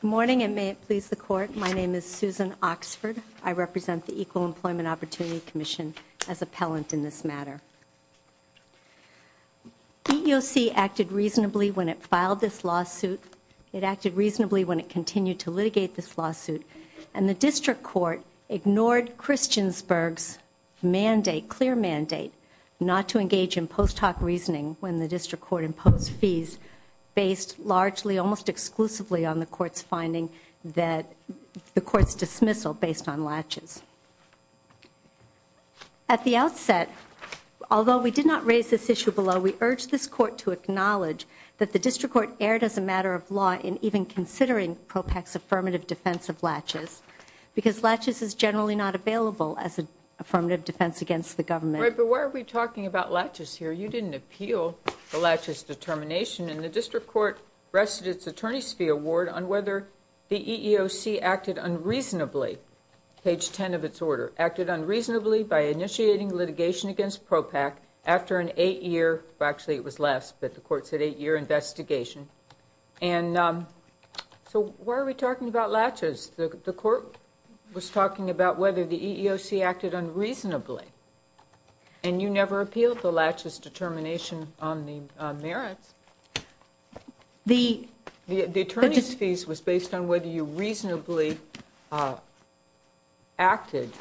Good morning and may it please the court. My name is Susan Oxford. I represent the Equal Employment Opportunity Commission as appellant in this matter. EEOC acted reasonably when it filed this lawsuit. It acted reasonably when it continued to litigate this lawsuit and the district court ignored Christiansburg's mandate, not to engage in post hoc reasoning when the district court imposed fees based largely almost exclusively on the court's finding that the court's dismissal based on latches. At the outset, although we did not raise this issue below, we urge this court to acknowledge that the district court erred as a matter of law in even considering Propak's affirmative defense of latches because latches is generally not available as a affirmative defense against the government. Right, but why are we talking about latches here? You didn't appeal the latches determination and the district court rested its attorney's fee award on whether the EEOC acted unreasonably, page 10 of its order, acted unreasonably by initiating litigation against Propak after an eight-year, well actually it was last, but the court said eight-year investigation. And so why are we talking about latches? The And you never appealed the latches determination on the merits. The attorney's fees was based on whether you reasonably acted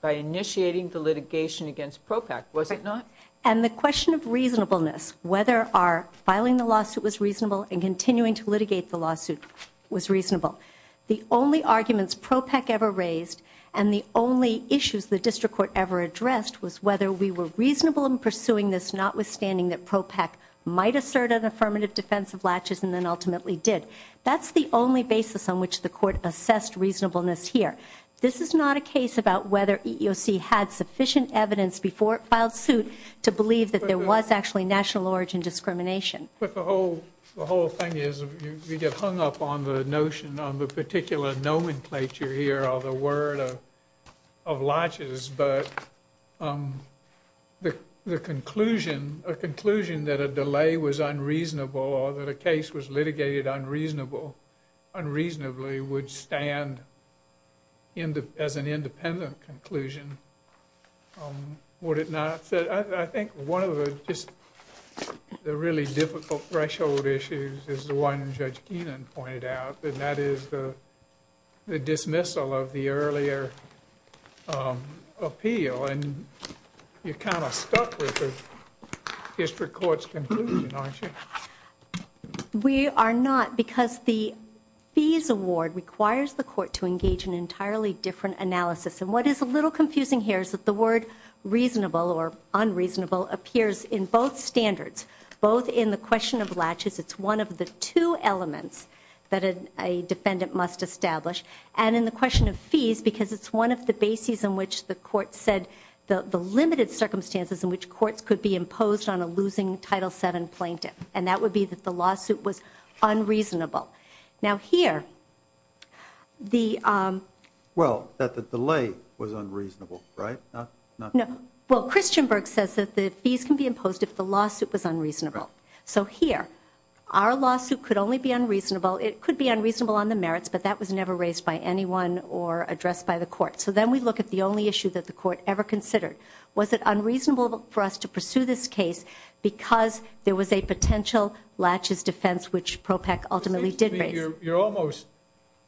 by initiating the litigation against Propak, was it not? And the question of reasonableness, whether our filing the lawsuit was reasonable and continuing to litigate the lawsuit was reasonable. The only arguments Propak ever raised and the only issues the was whether we were reasonable in pursuing this notwithstanding that Propak might assert an affirmative defense of latches and then ultimately did. That's the only basis on which the court assessed reasonableness here. This is not a case about whether EEOC had sufficient evidence before it filed suit to believe that there was actually national origin discrimination. But the whole thing is you get hung up on the notion on the particular nomenclature here or the word of latches, but the conclusion, a conclusion that a delay was unreasonable or that a case was litigated unreasonable, unreasonably would stand as an independent conclusion, would it not? So I think one of the just the really difficult threshold issues is the one Judge Keenan pointed out and that is the dismissal of the earlier appeal and you're kind of stuck with the district court's conclusion, aren't you? We are not because the fees award requires the court to engage in an entirely different analysis and what is a little confusing here is that the word reasonable or unreasonable appears in both standards, both in the question of latches, it's one of the two elements that a defendant must establish, and in the question of fees because it's one of the bases in which the court said the limited circumstances in which courts could be imposed on a losing Title VII plaintiff and that would be that the lawsuit was unreasonable. Now here the... Well that the delay was unreasonable, right? No, well Christian Berg says that the fees can be imposed if the lawsuit was unreasonable, it could be unreasonable on the merits but that was never raised by anyone or addressed by the court. So then we look at the only issue that the court ever considered. Was it unreasonable for us to pursue this case because there was a potential latches defense which PROPEC ultimately did raise? You're almost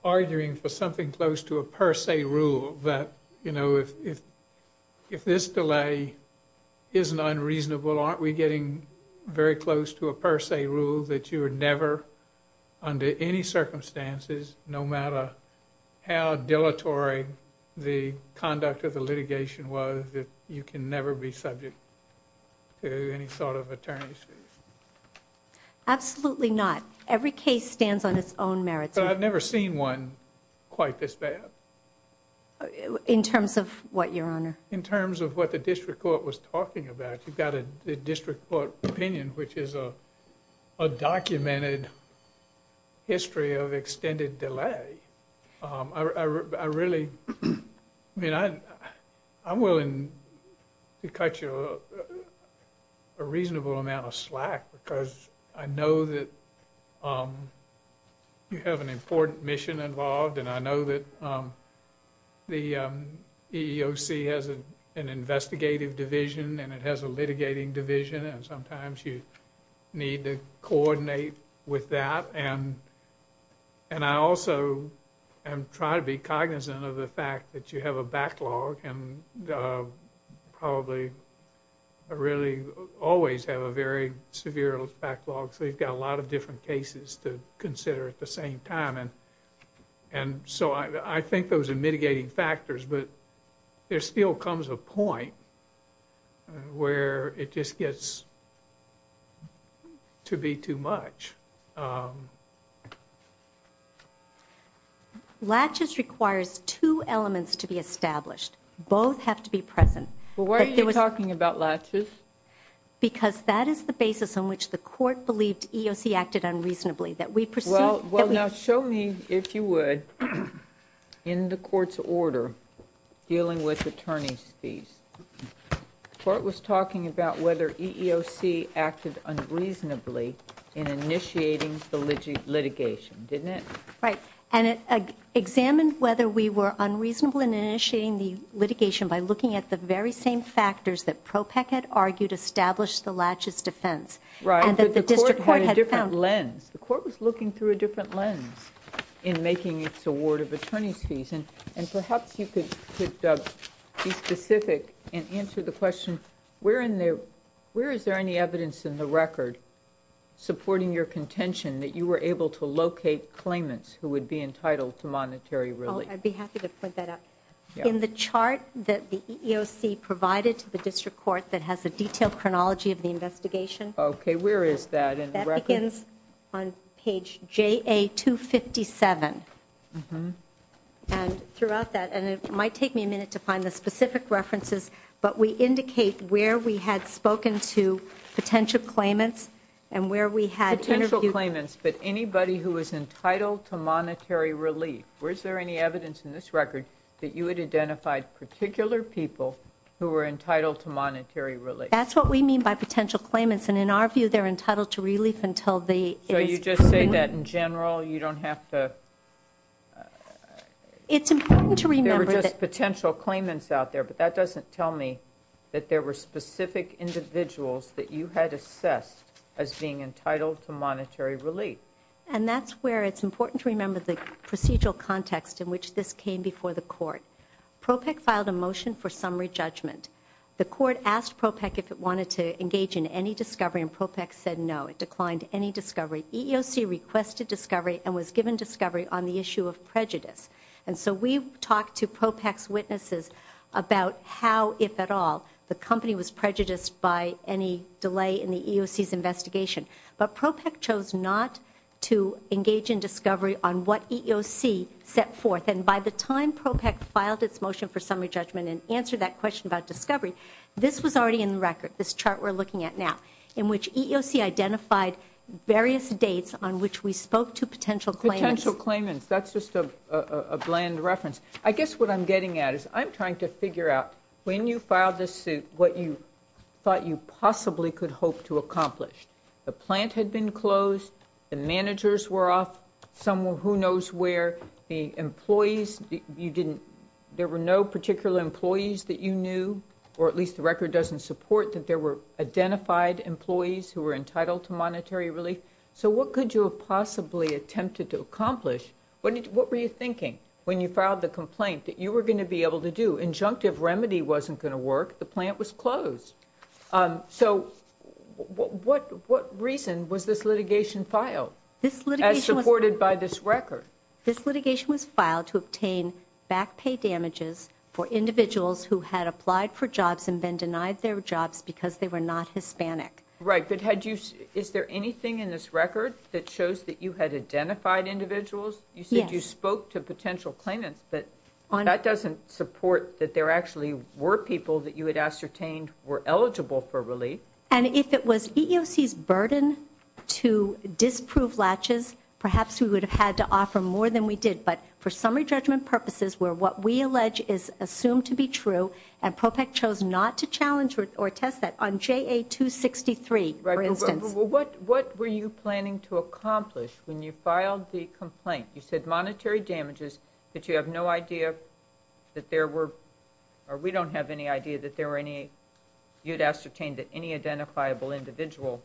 arguing for something close to a per se rule that, you know, if this delay isn't unreasonable, aren't we getting very close to a per se rule that you would never, under any circumstances, no matter how dilatory the conduct of the litigation was, that you can never be subject to any sort of attorney's fees? Absolutely not. Every case stands on its own merits. But I've never seen one quite this bad. In terms of what, your honor? In terms of what the district court was documented history of extended delay, I really, I mean, I'm willing to cut you a reasonable amount of slack because I know that you have an important mission involved and I know that the EEOC has an investigative division and it has a with that and and I also am trying to be cognizant of the fact that you have a backlog and probably really always have a very severe backlog so you've got a lot of different cases to consider at the same time and and so I think those are mitigating factors but there still comes a point where it just gets to be too much. Latches requires two elements to be established. Both have to be present. Well, why are you talking about latches? Because that is the basis on which the court believed EEOC acted unreasonably, that we pursued... Well, now show me, if you would, in the court's order dealing with attorney's fees. The court was initiating the litigation, didn't it? Right, and it examined whether we were unreasonable in initiating the litigation by looking at the very same factors that PROPEC had argued established the latches defense. Right, but the court had a different lens. The court was looking through a different lens in making its award of attorney's fees and and perhaps you could be specific and answer the question, where in there, where is there any evidence in the record supporting your contention that you were able to locate claimants who would be entitled to monetary relief? I'd be happy to put that up. In the chart that the EEOC provided to the district court that has a detailed chronology of the investigation. Okay, where is that? That begins on page JA 257 and throughout that, and it might take me a minute to find the specific references, but we indicate where we had spoken to potential claimants and where we had potential claimants, but anybody who was entitled to monetary relief. Where is there any evidence in this record that you had identified particular people who were entitled to monetary relief? That's what we mean by potential claimants and in our view they're entitled to relief until the... So you just say that in general, you don't have to... It's important to remember... There were just potential claimants out there, but that doesn't tell me that there were specific individuals that you had assessed as being entitled to monetary relief. And that's where it's important to remember the procedural context in which this came before the court. PROPEC filed a motion for summary judgment. The court asked PROPEC if it wanted to engage in any discovery and PROPEC said no. It declined any discovery. EEOC requested discovery and was given discovery on the basis about how, if at all, the company was prejudiced by any delay in the EEOC's investigation, but PROPEC chose not to engage in discovery on what EEOC set forth and by the time PROPEC filed its motion for summary judgment and answered that question about discovery, this was already in the record, this chart we're looking at now, in which EEOC identified various dates on which we spoke to potential claimants. Potential claimants, that's just a bland reference. I guess what I'm getting at is I'm trying to figure out when you filed this suit what you thought you possibly could hope to accomplish. The plant had been closed, the managers were off, someone who knows where, the employees, you didn't, there were no particular employees that you knew or at least the record doesn't support that there were identified employees who were entitled to monetary relief. So what could you have possibly attempted to accomplish? What were you thinking when you filed the complaint that you were going to be able to do? Injunctive remedy wasn't going to work, the plant was closed. So what reason was this litigation filed as supported by this record? This litigation was filed to obtain back pay damages for individuals who had applied for jobs and been denied their jobs because they were not Hispanic. Right, but had you, is there anything in this record that shows that you had identified individuals? You said you spoke to potential claimants, but that doesn't support that there actually were people that you had ascertained were eligible for relief. And if it was EEOC's burden to disprove latches, perhaps we would have had to offer more than we did, but for summary judgment purposes where what we allege is assumed to be true and PROPEC chose not to challenge or test that on JA 263, for instance. What were you planning to accomplish when you filed the damages that you have no idea that there were, or we don't have any idea that there were any, you'd ascertained that any identifiable individual.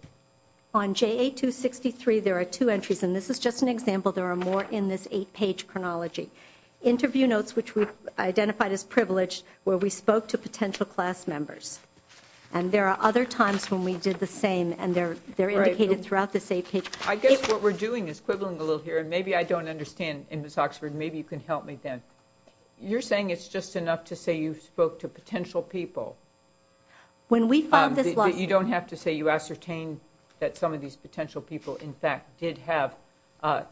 On JA 263 there are two entries and this is just an example, there are more in this eight-page chronology. Interview notes which we've identified as privileged where we spoke to potential class members and there are other times when we did the same and they're they're indicated throughout this eight-page. I guess what we're doing is quibbling a little here and maybe I don't understand and Ms. Oxford maybe you can help me then. You're saying it's just enough to say you spoke to potential people. When we filed this lawsuit. You don't have to say you ascertained that some of these potential people in fact did have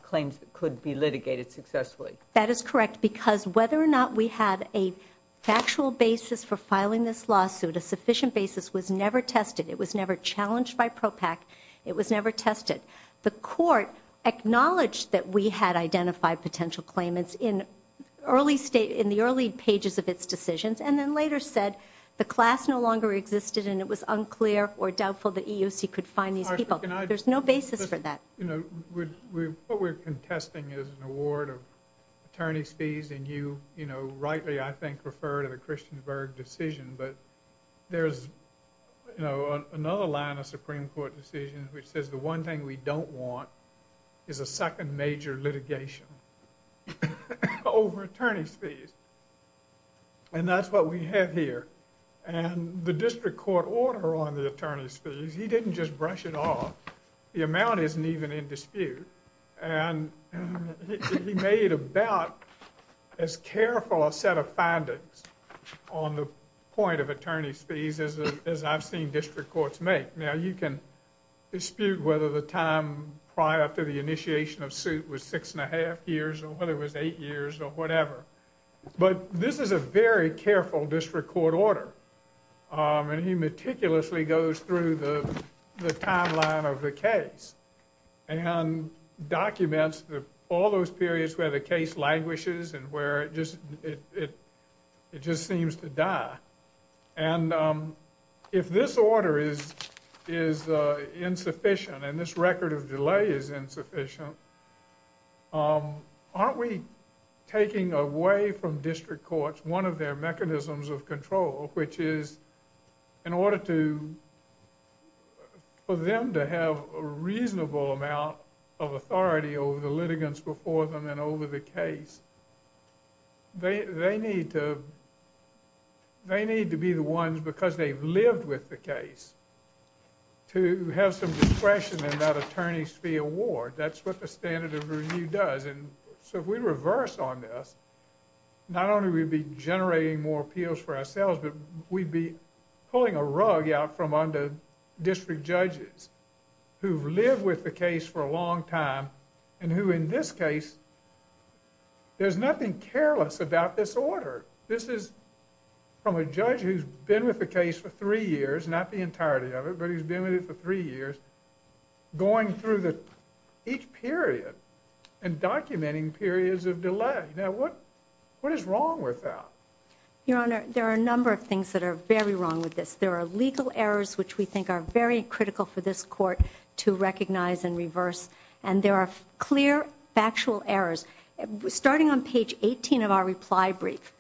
claims that could be litigated successfully. That is correct because whether or not we had a factual basis for filing this lawsuit, a sufficient basis was never tested, it was never challenged by PROPEC, it was never tested. The court acknowledged that we had identified potential claimants in the early pages of its decisions and then later said the class no longer existed and it was unclear or doubtful that EEOC could find these people. There's no basis for that. What we're contesting is an award of attorney's fees and you you know rightly I think refer to the Christian Berg decision but there's you know another line of Supreme Court decisions which says the one thing we don't want is a second major litigation over attorney's fees and that's what we have here and the district court order on the attorney's fees, he didn't just brush it off. The amount isn't even in dispute and he made about as careful a set of findings on the point of attorney's fees as I've seen district courts make. Now you can dispute whether the time prior to the initiation of suit was six and a half years or whether it was eight years or whatever but this is a very careful district court order and he meticulously goes through the timeline of the case and documents all those periods where the case languishes and where it just seems to die and if this order is is insufficient and this record of delay is insufficient aren't we taking away from district courts one of their mechanisms of control which is in order to for them to have a reasonable amount of authority over the litigants before them and over the case they need to they need to be the ones because they've lived with the case to have some discretion in that attorney's fee award that's what the standard of review does and so if we reverse on this not only we'd be generating more appeals for ourselves but we'd be pulling a rug out from under district judges who've lived with the long time and who in this case there's nothing careless about this order this is from a judge who's been with the case for three years not the entirety of it but he's been with it for three years going through the each period and documenting periods of delay now what what is wrong with that your honor there are a number of things that are very wrong with this there are legal errors which we think are very critical for this court to recognize and reverse and there are clear factual errors starting on page 18 of our reply brief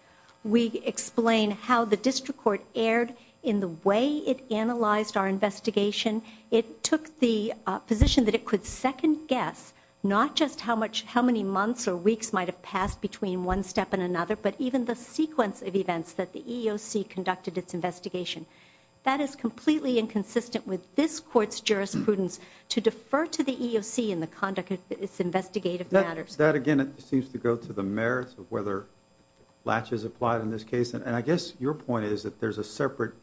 we explain how the district court aired in the way it analyzed our investigation it took the position that it could second-guess not just how much how many months or weeks might have passed between one step in another but even the sequence of investigation that is completely inconsistent with this court's jurisprudence to defer to the EOC in the conduct of its investigative matters that again it seems to go to the merits of whether latches applied in this case and I guess your point is that there's a separate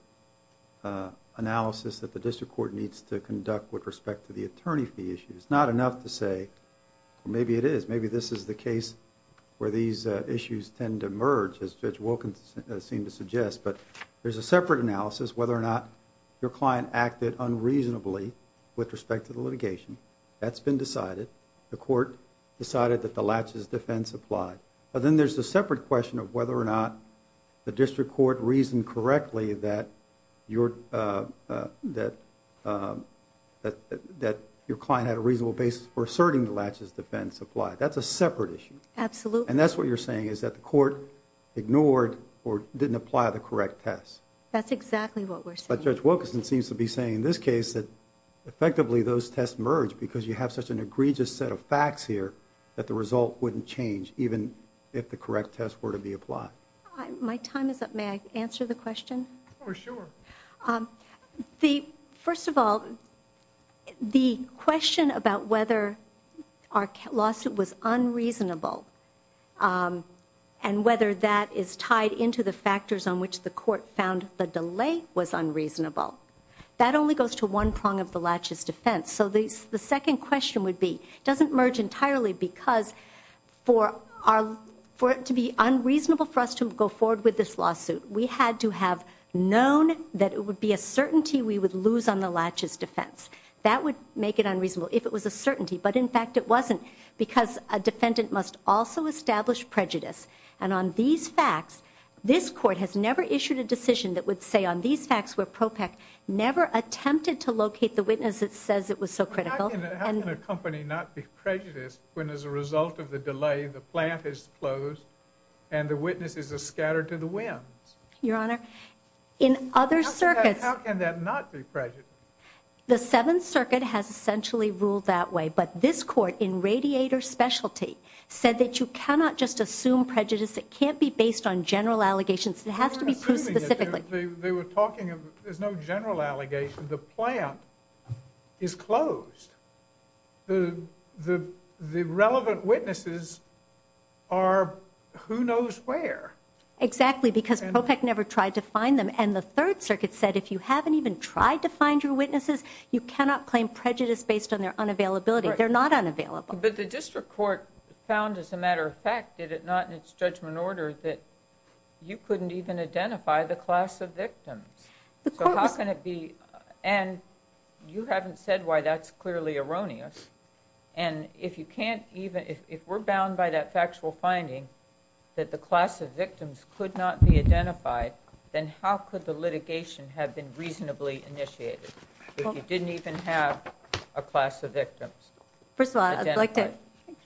analysis that the district court needs to conduct with respect to the attorney fee issues not enough to say maybe it is maybe this is the case where these issues tend to merge as Wilkins seemed to suggest but there's a separate analysis whether or not your client acted unreasonably with respect to the litigation that's been decided the court decided that the latches defense applied but then there's a separate question of whether or not the district court reasoned correctly that your that that that your client had a reasonable basis for asserting the latches defense applied that's a separate issue absolutely and that's what you're saying is that the court ignored or didn't apply the correct test that's exactly what we're but judge Wilkinson seems to be saying in this case that effectively those tests merge because you have such an egregious set of facts here that the result wouldn't change even if the correct test were to be applied my time is up may I answer the question the first of all the question about whether our lawsuit was unreasonable and whether that is tied into the factors on which the court found the delay was unreasonable that only goes to one prong of the latches defense so these the second question would be doesn't merge entirely because for our for it to be known that it would be a certainty we would lose on the latches defense that would make it unreasonable if it was a certainty but in fact it wasn't because a defendant must also establish prejudice and on these facts this court has never issued a decision that would say on these facts were pro pack never attempted to locate the witness that says it was so critical and the company not be prejudiced when as a result of the delay the plant is closed and the in other circuits the Seventh Circuit has essentially ruled that way but this court in radiator specialty said that you cannot just assume prejudice it can't be based on general allegations it has to be proved specifically they were talking of there's no general allegation the plant is closed the the the relevant witnesses are who knows where exactly because I never tried to find them and the Third Circuit said if you haven't even tried to find your witnesses you cannot claim prejudice based on their unavailability they're not unavailable but the district court found as a matter of fact did it not in its judgment order that you couldn't even identify the class of victims how can it be and you can't even if we're bound by that factual finding that the class of victims could not be identified then how could the litigation have been reasonably initiated didn't even have a class of victims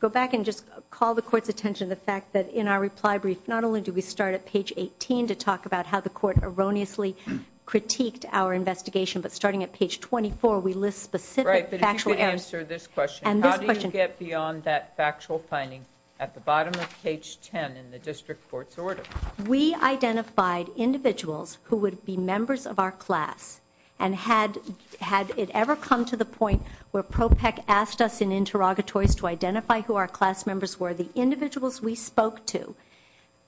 go back and just call the court's attention the fact that in our reply brief not only do we start at page 18 to talk about how the court erroneously critiqued our investigation but starting at page 24 we list specific factual answer this question and how do you get beyond that factual finding at the bottom of page 10 in the district courts order we identified individuals who would be members of our class and had had it ever come to the point where Propec asked us in interrogatories to identify who our class members were the individuals we spoke to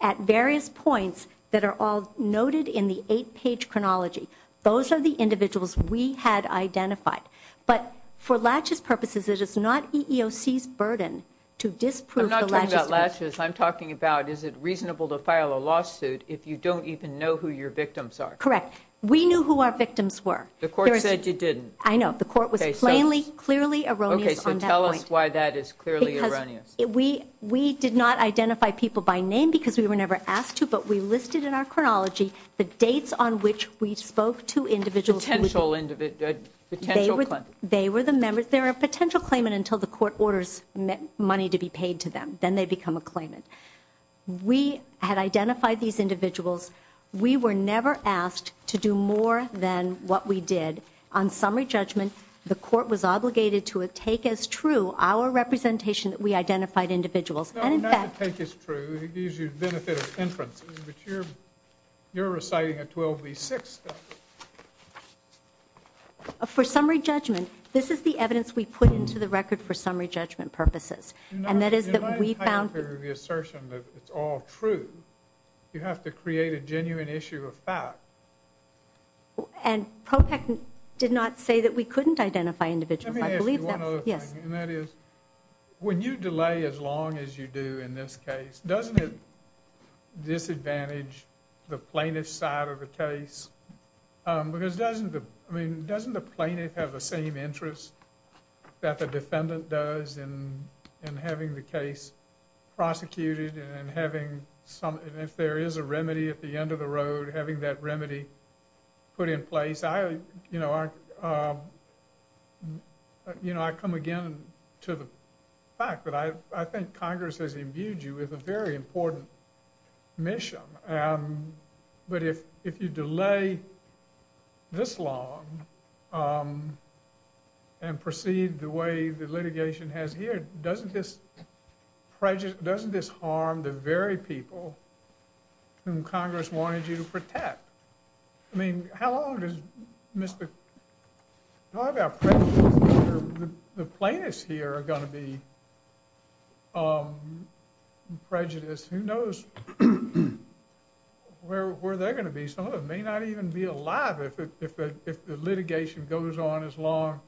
at various points that are all noted in the 8-page chronology those are the individuals we had identified but for latches purposes it is not EEOC's burden to disprove that latches I'm talking about is it reasonable to file a lawsuit if you don't even know who your victims are correct we knew who our victims were the court said you didn't I know the court was a plainly clearly erroneous and tell us why that is clearly erroneous if we we did not identify people by name because we were never asked to but we listed in our individual potential individual they were they were the members there are potential claimant until the court orders money to be paid to them then they become a claimant we had identified these individuals we were never asked to do more than what we did on summary judgment the court was obligated to a take as true our representation that we identified individuals and in fact take is true it gives you the benefit of entrances but you're you're reciting a 12v6 for summary judgment this is the evidence we put into the record for summary judgment purposes and that is that we found the assertion that it's all true you have to create a genuine issue of fact and ProPAC did not say that we couldn't identify individuals I believe that yes and that is when you delay as long as you do in this case doesn't it disadvantage the plaintiff side of the case because doesn't the I mean doesn't the plaintiff have the same interest that the defendant does and and having the case prosecuted and having some if there is a remedy at the end of the road having that remedy put in place I you know I you know I come again to the fact that I I think Congress has imbued you with a very important mission but if if you delay this long and proceed the way the litigation has here doesn't this prejudice doesn't this harm the very people whom Congress wanted you to protect I mean how long does mr. talk about the plaintiffs here are going to be prejudice who knows where they're going to be some of it may not even be alive if the litigation goes on as long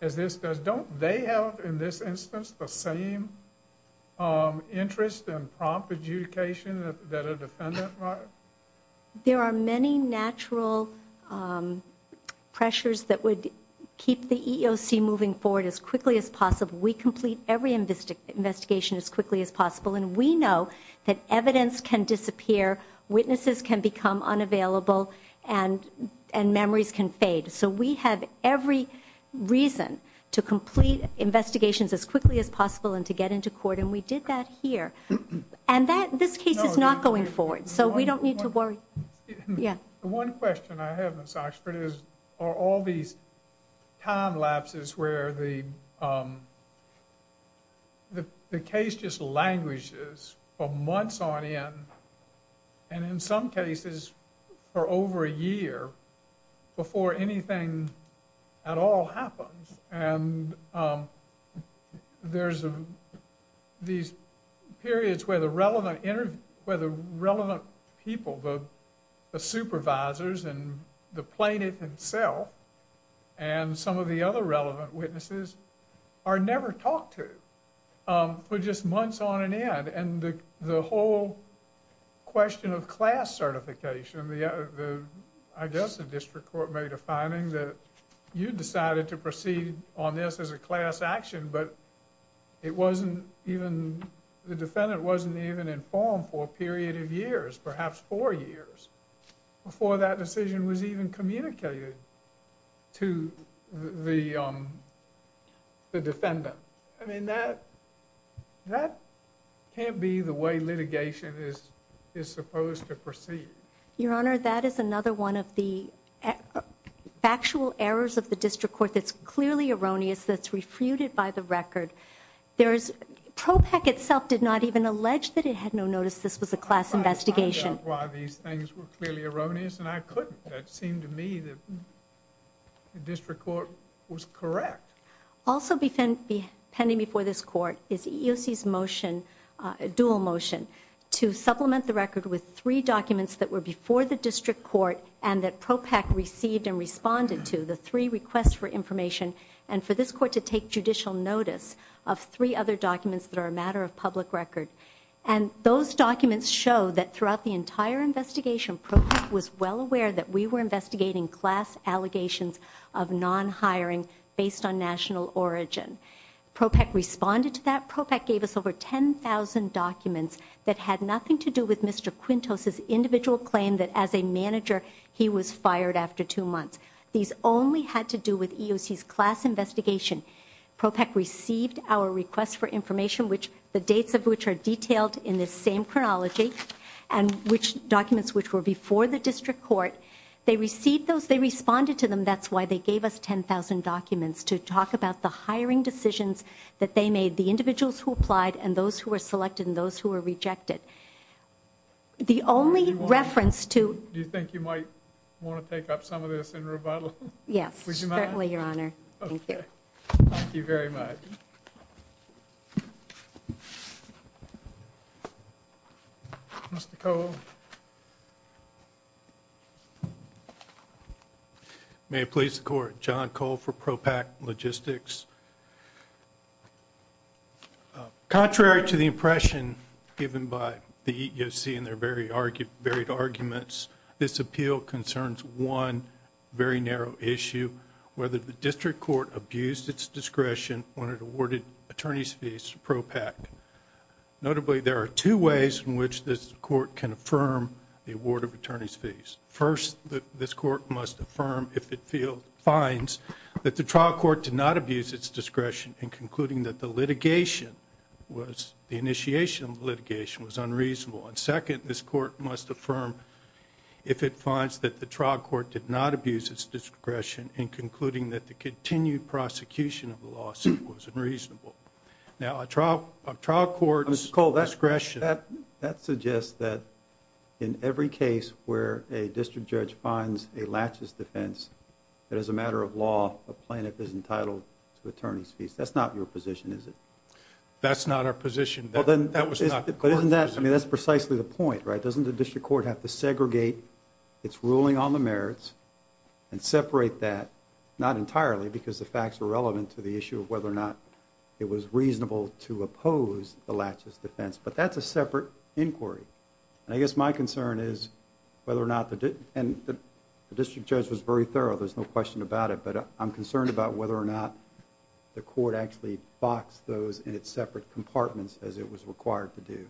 as this does don't they have in this instance the same interest and prompt adjudication that a defendant there are many natural pressures that would keep the EEOC moving forward as quickly as possible we complete every in this investigation as quickly as possible and we know that evidence can disappear witnesses can become unavailable and and memories can fade so we have every reason to complete investigations as quickly as possible and to get into court and we did that here and that this case is not going forward so we don't need to worry yeah one question I have this Oxford is are all these time lapses where the the case just languishes for months on end and in some cases for over a year before anything at all happens and there's a these periods where the relevant interview where the relevant people the supervisors and the plaintiff himself and some of the other relevant witnesses are never talked to for just months on an end and the whole question of class certification the I guess the district court made a finding that you decided to proceed on this as a class action but it wasn't even the defendant wasn't even informed for a period of years before that decision was even communicated to the defendant I mean that that can't be the way litigation is is supposed to proceed your honor that is another one of the actual errors of the district court that's clearly erroneous that's refuted by the record there is pro pack itself did not even allege that it had no notice this was a class investigation why these things were clearly erroneous and I couldn't that seemed to me that the district court was correct also befend be pending before this court is EOC's motion a dual motion to supplement the record with three documents that were before the district court and that pro pack received and responded to the three requests for information and for this court to take judicial notice of three other documents that are a matter of public record and those documents show that throughout the entire investigation was well aware that we were investigating class allegations of non-hiring based on national origin pro pack responded to that pro pack gave us over 10,000 documents that had nothing to do with mr. Quintos his individual claim that as a manager he was fired after two months these only had to do with EOC's class investigation pro pack received our request for information which the dates of which are detailed in the same chronology and which documents which were before the district court they received those they responded to them that's why they gave us 10,000 documents to talk about the hiring decisions that they made the individuals who applied and those who were selected in those who were rejected the only reference to you thank you very much may it please the court John Cole for pro pack logistics contrary to the impression given by the EEOC in their very argued buried arguments this appeal concerns one very narrow issue whether the district court abused its discretion when it awarded attorneys fees pro pack notably there are two ways in which this court can affirm the award of attorneys fees first that this court must affirm if it field finds that the trial court did not abuse its discretion in concluding that the litigation was the initiation litigation was unreasonable and second this court must affirm if it finds that the trial court did not abuse its discretion in concluding that the continued prosecution of the lawsuit was unreasonable now a trial trial court miss Cole discretion that that suggests that in every case where a district judge finds a laches defense that is a matter of law a plaintiff is entitled to attorneys fees that's not your position is it that's not our position well then that wasn't that I mean that's precisely the point right doesn't the district court have to segregate its ruling on the merits and separate that not entirely because the facts are relevant to the issue of whether or not it was reasonable to oppose the latches defense but that's a separate inquiry and I guess my concern is whether or not the did and the district judge was very thorough there's no question about it but I'm concerned about whether or not the court actually box those in its separate compartments as it was required to do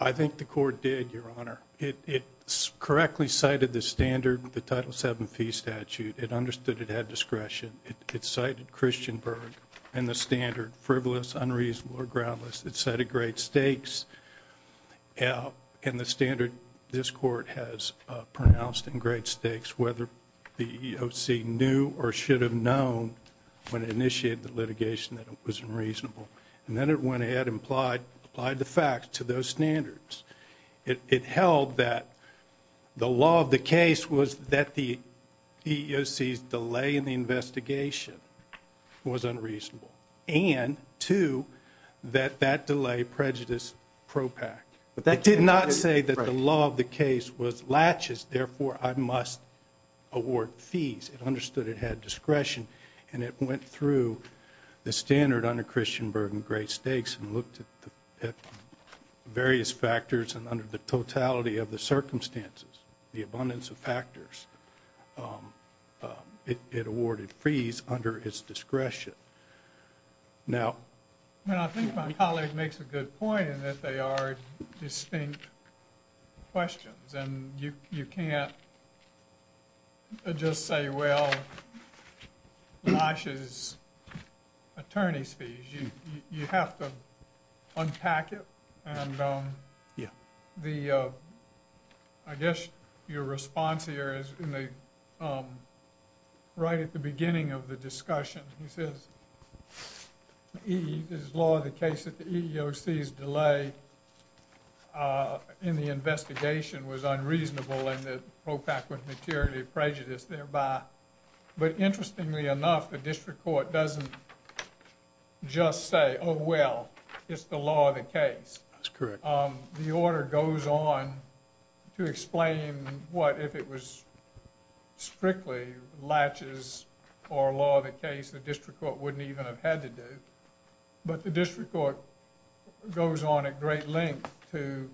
I think the court did your honor it's correctly cited the standard the title seven fee statute it understood it had discretion it's cited christian berg and the standard frivolous unreasonable or groundless it's set a great stakes out in the standard this court has pronounced in great stakes whether the EEOC knew or should have known when initiated the litigation that it was unreasonable and then it went ahead implied applied the facts to those standards it held that the law of the case was that the EEOC's delay in the investigation was unreasonable and to that that delay prejudice propack but did not say that the law of the case was latches therefore I must award fees understood it had discretion and it went through the standard under christian berg and great stakes and looked at the various factors and under the totality of the circumstances the abundance of factors it awarded freeze under his questions and you you can't just say well lashes attorneys fees you you have to unpack it and yeah the I guess your response here is in the right at the in the investigation was unreasonable and the propack with maturity prejudice thereby but interestingly enough the district court doesn't just say oh well it's the law of the case that's correct the order goes on to explain what if it was strictly latches or law of the case the district court wouldn't even have to do but the district court goes on at great length to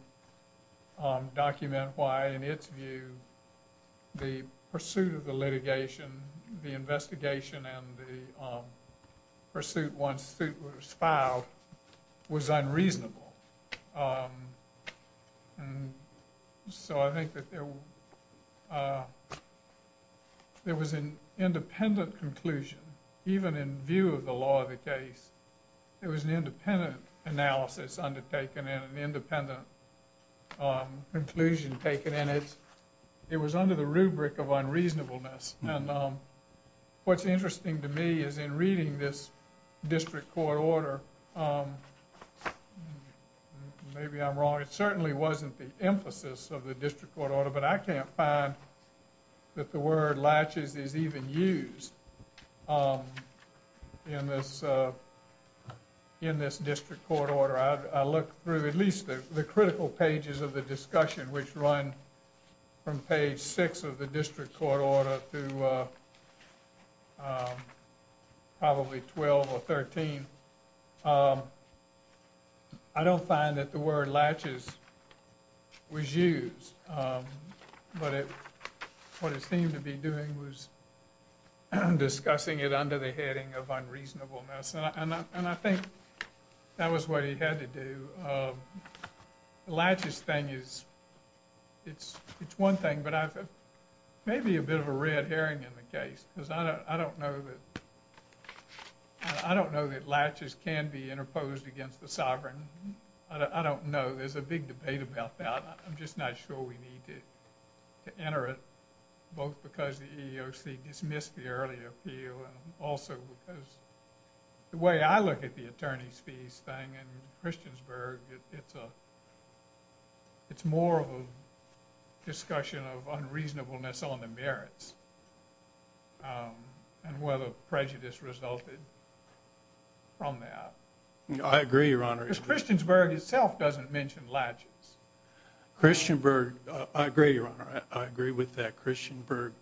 document why in its view the pursuit of the litigation the investigation and the pursuit one suit was filed was unreasonable so I think that there was an independent conclusion even in view of the law of the case it was an independent analysis undertaken in an independent inclusion taken in it it was under the rubric of unreasonableness and what's interesting to me is in reading this district court order maybe I'm wrong it certainly wasn't the emphasis of the district but I can't find that the word latches is even used in this in this district court order I look through at least the critical pages of the discussion which run from page six of the district court order to probably 12 or 13 I don't find that the word latches was used but it what it seemed to be doing was I'm discussing it under the heading of unreasonableness and I think that was what he had to do latches thing is it's it's one thing but I've maybe a bit of a red herring in the case because I don't know that I don't know that latches can be interposed against the sovereign I don't know there's a big debate about that I'm just not sure we need to enter it both because the EEOC dismissed the earlier appeal and also because the way I look at the attorney's fees thing and Christiansburg it's a it's more of a discussion of unreasonableness on the I agree your honor it's Christiansburg itself doesn't mention latches Christian Berg I agree your honor I agree with that Christian Berg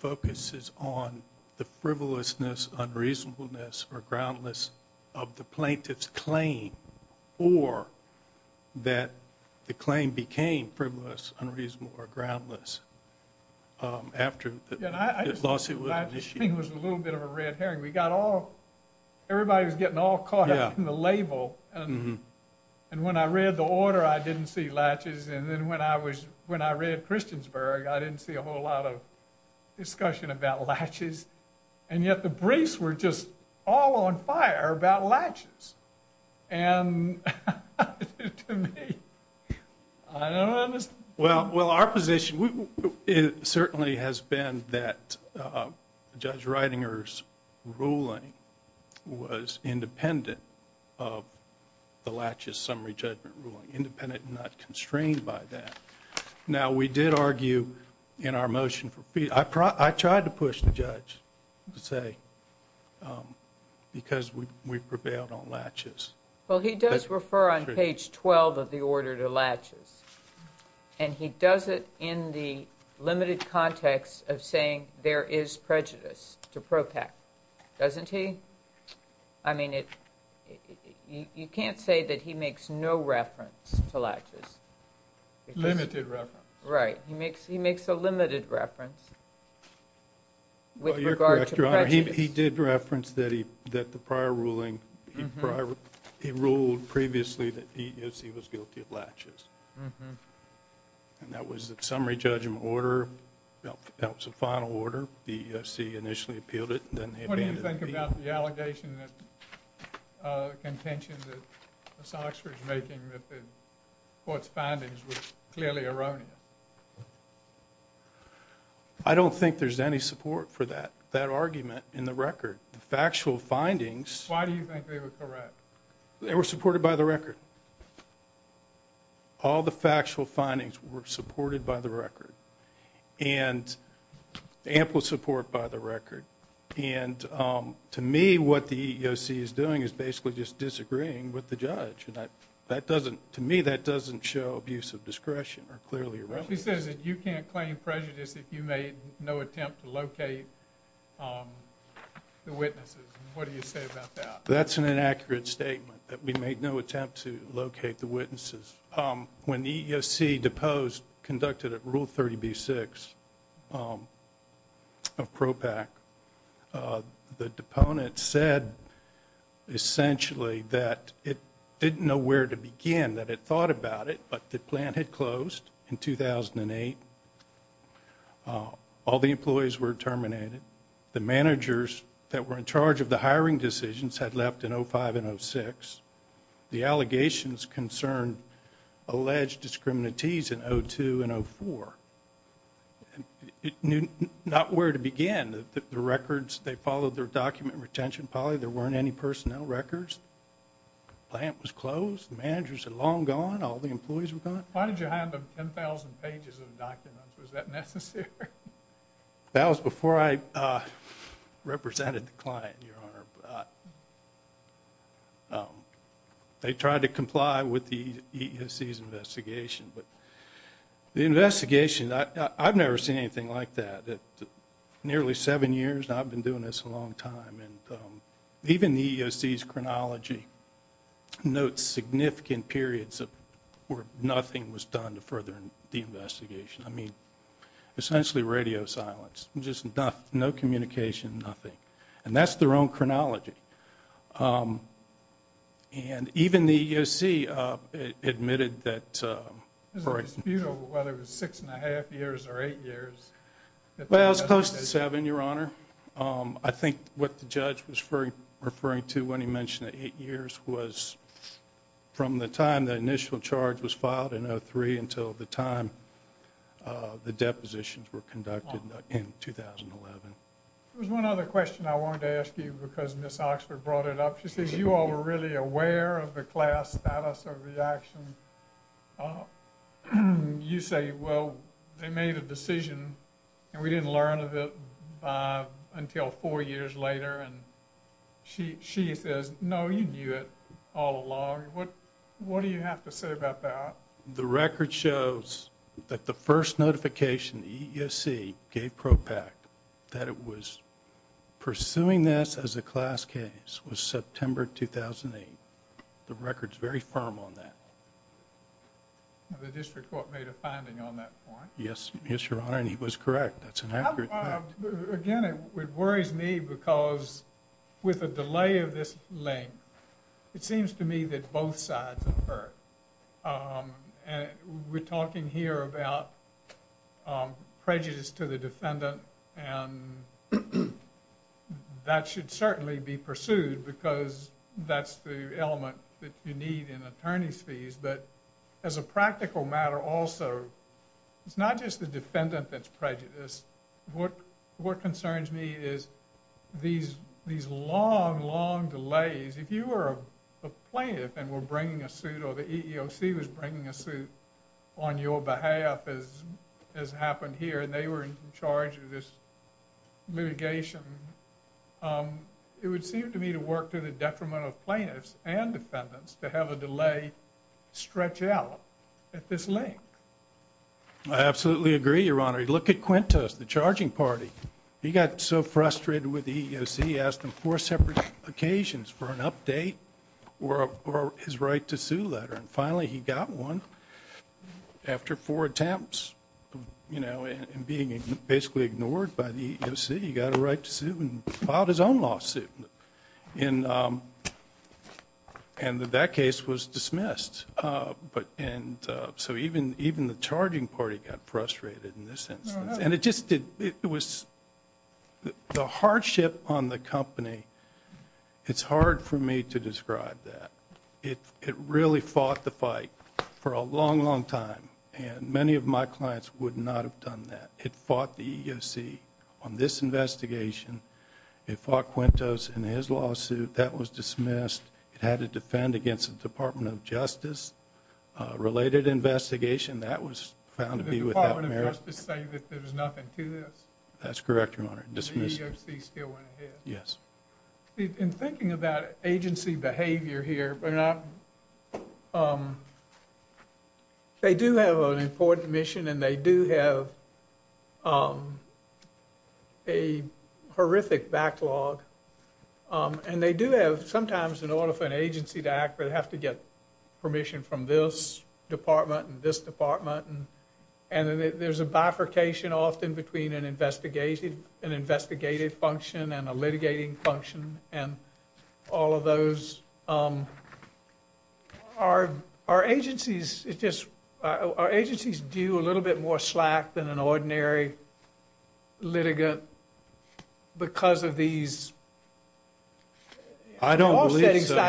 focuses on the frivolousness unreasonableness or groundless of the plaintiff's claim or that the claim became frivolous unreasonable or groundless after I lost it was a little bit of a red herring we got all everybody was getting all caught up in the label and and when I read the order I didn't see latches and then when I was when I read Christiansburg I didn't see a whole lot of discussion about latches and yet the briefs were just all on fire about latches and well well our position it certainly has been that judge Reitinger's ruling was independent of the latches summary judgment independent not constrained by that now we did argue in our motion for fee I tried to push the judge to say because we prevailed on latches well he does refer on page 12 of the order to latches and he does it in the limited context of saying there is prejudice to you can't say that he makes no reference to latches limited reference right he makes he makes a limited reference with regard to he did reference that he that the prior ruling he ruled previously that he was guilty of latches and that was that summary judgment order that was a final order BSC initially appealed it what do you think about the allegation that contention that the Sox was making that the court's findings were clearly erroneous I don't think there's any support for that that argument in the record the factual findings why do you think they were correct they were supported by the record all the factual to me what the EEOC is doing is basically just disagreeing with the judge that that doesn't to me that doesn't show abuse of discretion or clearly you can't claim prejudice if you made no attempt to locate that's an inaccurate statement that we made no attempt to locate the witnesses when the EEOC deposed conducted at rule 30b6 of PROPAC the deponent said essentially that it didn't know where to begin that it thought about it but the plant had closed in 2008 all the employees were terminated the managers that were in charge of the hiring decisions had left in 05 and 06 the allegations concerned alleged discriminaties in 02 and 04 and it knew not where to begin the records they followed their document retention poly there weren't any personnel records plant was closed managers had long gone all the employees were gone why did you hand them 10,000 pages of documents was that necessary that was before I represented the client they tried to comply with the investigation but the investigation I've never seen anything like that nearly seven years I've been doing this a long time and even the EEOC chronology notes significant periods of where nothing was done to further the investigation I mean essentially radio silence just enough no communication nothing and that's their own chronology and even the EEOC admitted that whether it was six and a half years or eight years close to seven your honor I think what the judge was referring to when he mentioned eight years was from the time the initial charge was filed in 03 until the time the depositions were conducted in 2011 there's one other question I want to ask you because miss Oxford brought it up she says you are really aware of the class status of the action you say well they made a decision and we didn't learn of it until four years later and she she says no you knew it all along what what the record shows that the first notification the EEOC gave ProPact that it was pursuing this as a class case was September 2008 the records very firm on that yes yes your honor and he was correct that's an accurate again it worries me because with a delay of this length it seems to me that both sides and we're talking here about prejudice to the defendant and that should certainly be pursued because that's the element that you need in attorneys fees but as a practical matter also it's not just the defendant that's prejudice what what concerns me is these these long long delays if you were a plaintiff and we're bringing a suit or the EEOC was bringing a suit on your behalf as has happened here and they were in charge of this litigation it would seem to me to work to the detriment of plaintiffs and defendants to have a delay stretch out at this length I absolutely agree your honor you look at Quintus the charging party he got so frustrated with the EEOC asked him for separate occasions for an his right to sue letter and finally he got one after four attempts you know and being basically ignored by the EEOC he got a right to sue and filed his own lawsuit in and that case was dismissed but and so even even the charging party got frustrated in this instance and it just did it was the hardship on the it really fought the fight for a long long time and many of my clients would not have done that it fought the EEOC on this investigation it fought Quintus in his lawsuit that was dismissed it had to defend against the Department of Justice related investigation that was found to be with that's correct your they do have an important mission and they do have a horrific backlog and they do have sometimes in order for an agency to act but have to get permission from this department and this department and there's a bifurcation often between an investigative an investigative function and a litigating function and all of those are our agencies it just our agencies do a little bit more slack than an ordinary litigant because of these I don't know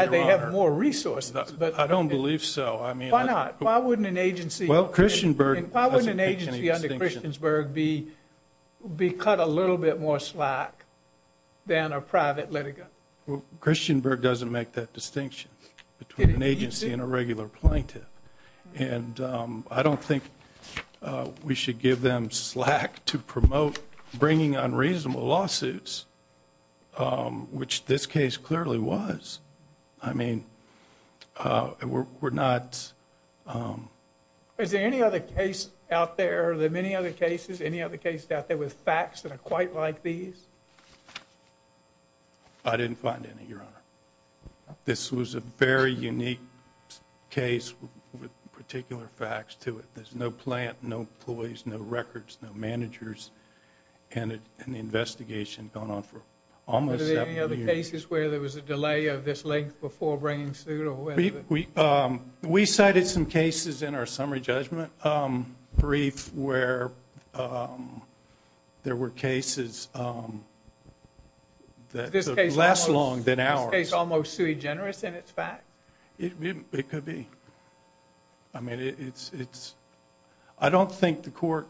they have more resources but I don't believe so I mean why not why wouldn't an agency well Christian Berg and probably an agency under Christiansberg be be cut a little bit more slack than a private litigant Christian Berg doesn't make that distinction between an agency and a regular plaintiff and I don't think we should give them slack to promote bringing unreasonable lawsuits which this case clearly was I mean we're not is there any other case out there there any other cases any other cases out there with facts that are quite like these I didn't find any your honor this was a very unique case with particular facts to it there's no plant no employees no records no managers and an investigation going on for almost any other cases where there was a delay of this length before bringing suit or we we cited some cases in our summary judgment brief where there were cases less long than our case almost sui generis in its fact it could be I mean it's it's I don't think the court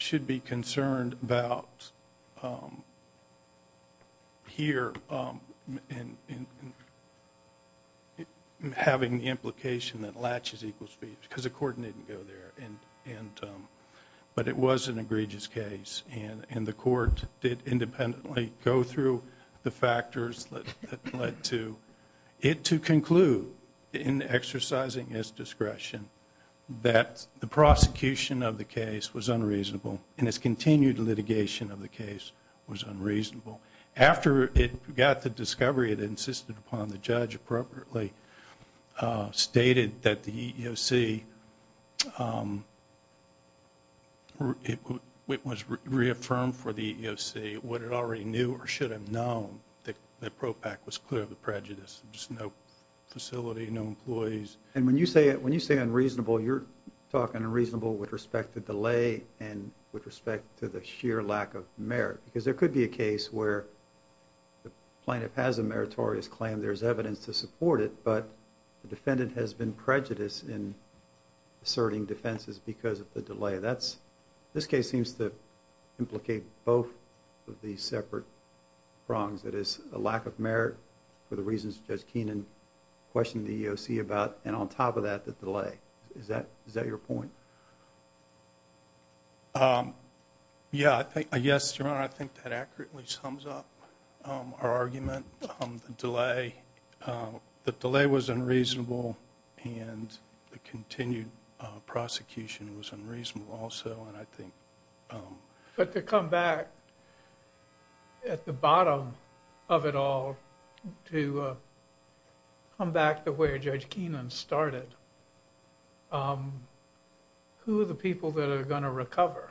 should be concerned about here in having the implication that latches equal speech because the court didn't go there and and but it was an egregious case and in the court did independently go through the factors that led to it to conclude in exercising his discretion that the prosecution of the case was unreasonable and it's continued litigation of the case was unreasonable after it got the discovery it insisted upon the judge appropriately stated that the EEOC it was reaffirmed for the EEOC what it already knew or should have known that the ProPAC was clear of the prejudice just no facility no employees and when you say it when you say unreasonable you're talking unreasonable with respect to delay and with respect to the sheer lack of merit because there could be a case where the plaintiff has a meritorious claim there's evidence to support it but the defendant has been prejudiced in asserting defenses because of the delay that's this case seems to implicate both of these separate wrongs that is a lack of merit for the reasons judge Keenan questioned the EEOC about and on top of that the delay is that is that your point yeah I think yes your honor I think that accurately sums up our argument on the delay the delay was unreasonable and the continued prosecution was unreasonable also and I think but to come back at the bottom of it all to come back to where judge Keenan started who are the people that are going to recover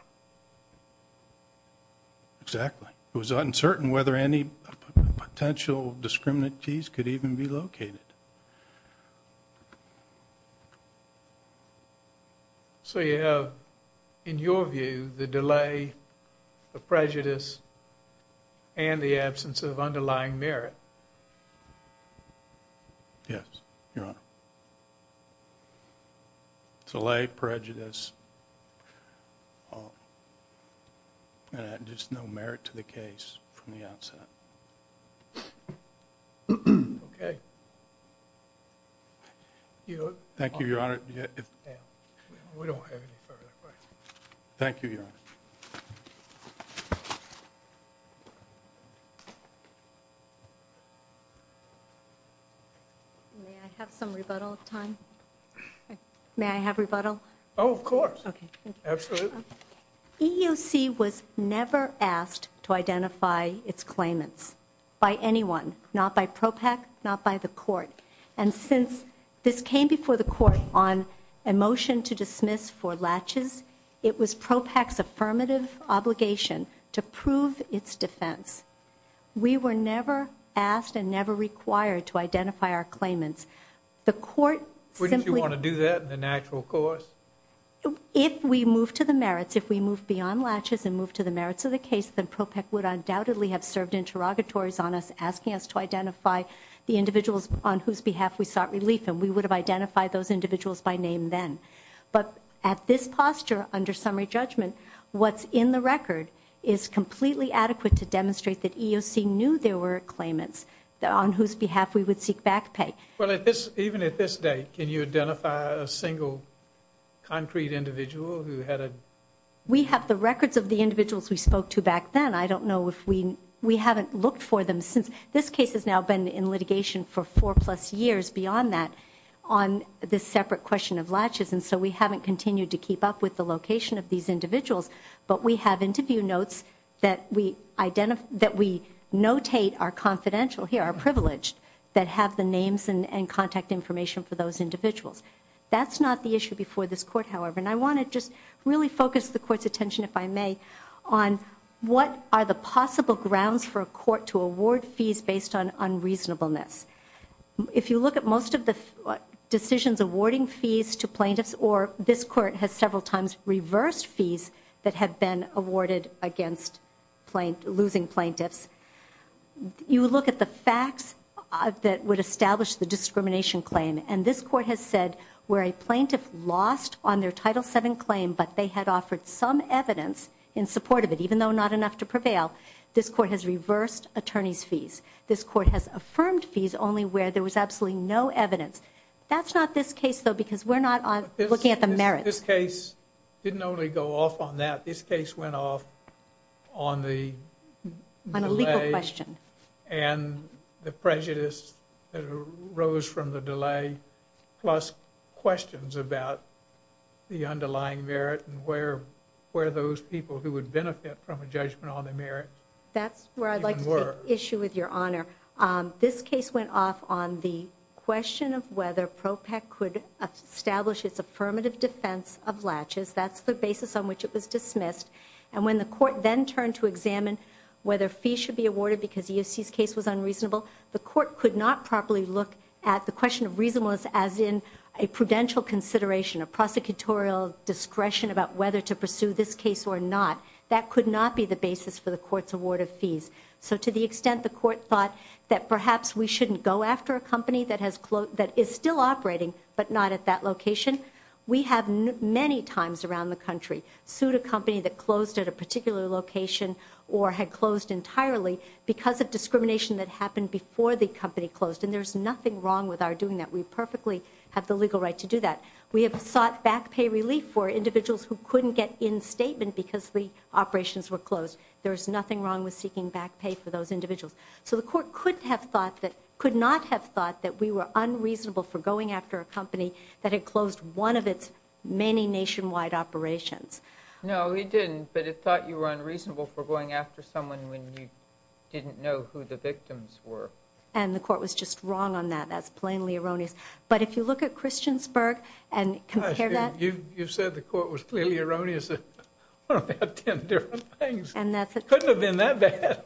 exactly it was uncertain whether any potential discriminate cheese could even be located so you know in your view the delay the prejudice and the absence of delay prejudice and just no merit to the case from the outset okay you know thank you your honor thank you may I have some rebuttal time may I have rebuttal oh of course EEOC was never asked to identify its claimants by anyone not by PROPAC not by the court and since this came before the court on a motion to dismiss for latches it was PROPAC's affirmative obligation to prove its defense we were never asked and never required to identify our claimants the court wouldn't you want to do that in the natural course if we move to the merits if we move beyond latches and move to the merits of the case then PROPAC would undoubtedly have served interrogatories on us asking us to identify the individuals on whose behalf we sought relief and we would have identified those individuals by name then but at this posture under summary judgment what's in the record is completely adequate to demonstrate that EEOC knew there were claimants that on whose behalf we would seek back pay well at this even at this date can you identify a single concrete individual who had a we have the records of the individuals we spoke to back then I don't know if we we haven't looked for them since this case has now been in litigation for four plus years beyond that on this separate question of latches and so we haven't continued to keep up with the location of these individuals but we have interview notes that we identify that we notate our confidential here our privileged that have the names and contact information for those individuals that's not the issue before this court however and I want to just really focus the court's attention if I may on what are the possible grounds for a court to award fees based on unreasonableness if you look at most of the decisions awarding fees to plaintiffs or this court has several times reversed fees that have been awarded against plain losing plaintiffs you look at the facts that would establish the discrimination claim and this court has said where a plaintiff lost on their title 7 claim but they had offered some evidence in support of it even though not enough to prevail this court has reversed attorneys fees this court has affirmed fees only where there was absolutely no evidence that's not this case though because we're not looking at the merit this case didn't only go off on that this case went off on the question and the prejudice that arose from the delay plus questions about the underlying merit and where where those people who would benefit from a judgment on the merit that's where I'd like to issue with your honor on this case went off on the question of whether ProPAC could establish its affirmative defense of latches that's the basis on which it was dismissed and when the court then turned to examine whether fees should be awarded because the UC's case was unreasonable the court could not properly look at the question of reason was as in a prudential consideration of prosecutorial discretion about whether to pursue this case or not that could not be the basis for the court's award of fees so to the extent the court thought that perhaps we shouldn't go after a company that has quote that is still operating but not at that location we have many times around the country sued a company that closed at a particular location or had closed entirely because of discrimination that happened before the company closed and there's nothing wrong with our doing that we perfectly have the legal right to do that we have sought back pay relief for individuals who couldn't get in statement because the operations were closed there's nothing wrong with seeking back pay for those individuals so the court could have thought that could not have thought that we were unreasonable for going after a company that had closed one of its many nationwide operations no we didn't but it thought you were unreasonable for going after someone when you didn't know who the victims were and the court was just wrong on that that's plainly erroneous but if you look at Christiansburg and compare that you you said the court was clearly erroneous and that's it couldn't have been that bad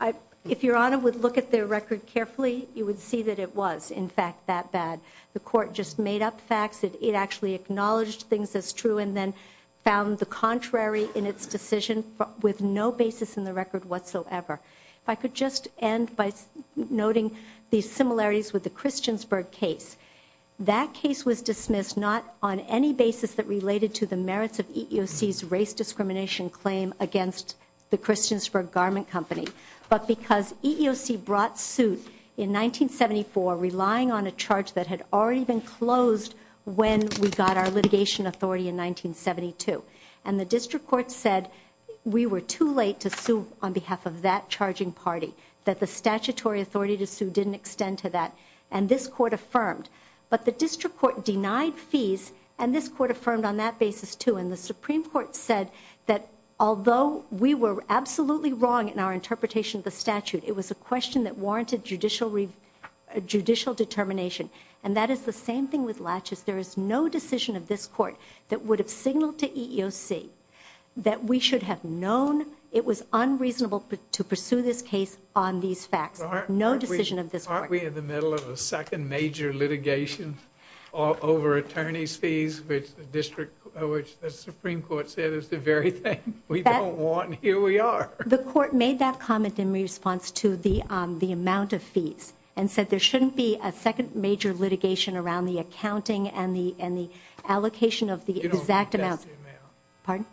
I if your honor would look at their record carefully you would see that it was in fact that bad the court just made up facts that it actually acknowledged things as true and then found the contrary in its decision with no basis in the record whatsoever if I could just end by noting these similarities with the Christiansburg case that case was race discrimination claim against the Christiansburg garment company but because EEOC brought suit in 1974 relying on a charge that had already been closed when we got our litigation authority in 1972 and the district court said we were too late to sue on behalf of that charging party that the statutory authority to sue didn't extend to that and this court affirmed but the district court denied fees and this court affirmed on that basis to in the Supreme Court said that although we were absolutely wrong in our interpretation of the statute it was a question that warranted judicial judicial determination and that is the same thing with latches there is no decision of this court that would have signaled to EEOC that we should have known it was unreasonable to pursue this case on these facts no decision of this aren't we in the middle of a second major litigation all over attorneys fees which the district which the Supreme Court said is the very thing we don't want here we are the court made that comment in response to the the amount of fees and said there shouldn't be a second major litigation around the accounting and the and the allocation of the exact amount pardon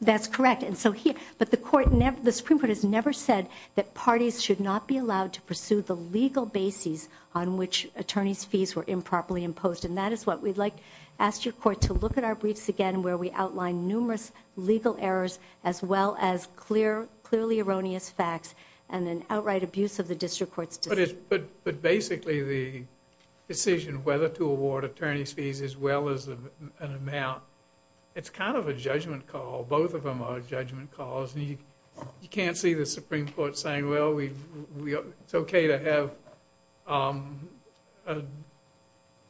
that's correct and so here but the court never the Supreme Court has never said that parties should not be allowed to pursue the legal basis on which attorneys fees were improperly imposed and that is what we'd like asked your court to look at our briefs again where we outline numerous legal errors as well as clear clearly erroneous facts and then outright abuse of the district courts but it's but but basically the decision whether to award attorneys fees as well as an amount it's kind of a judgment call both of them are judgment calls and you can't see the Supreme Court saying well we it's okay to have a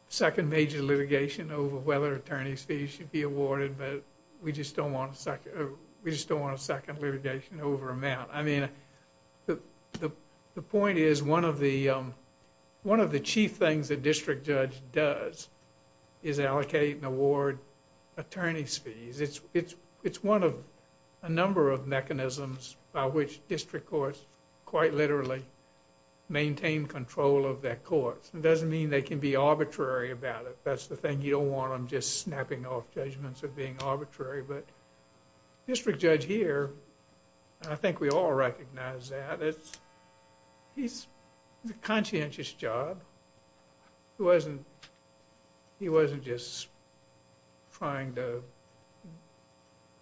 second major litigation over whether attorneys fees should be awarded but we just don't want a second we just don't want a second litigation over amount I mean the the point is one of the one of the chief things that district judge does is allocate and award attorneys fees it's it's it's one of a number of mechanisms by which district courts quite literally maintain control of their courts it doesn't mean they can be arbitrary about it that's the thing you don't want them just snapping off judgments of being arbitrary but district judge here I think we all recognize that it's he's the conscientious job who wasn't he trying to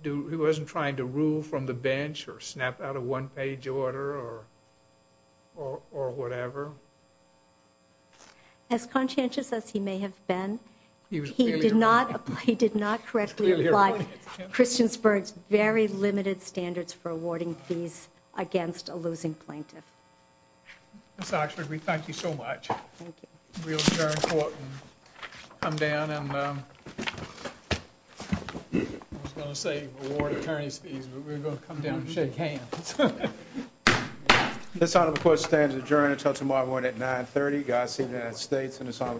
do he wasn't trying to rule from the bench or snap out of one-page order or or whatever as conscientious as he may have been he did not he did not correctly like Christiansburg's very limited standards for awarding fees against a losing plaintiff we thank you so much this honor the court stands adjourned until tomorrow morning at 930 guys see the United States and it's on the report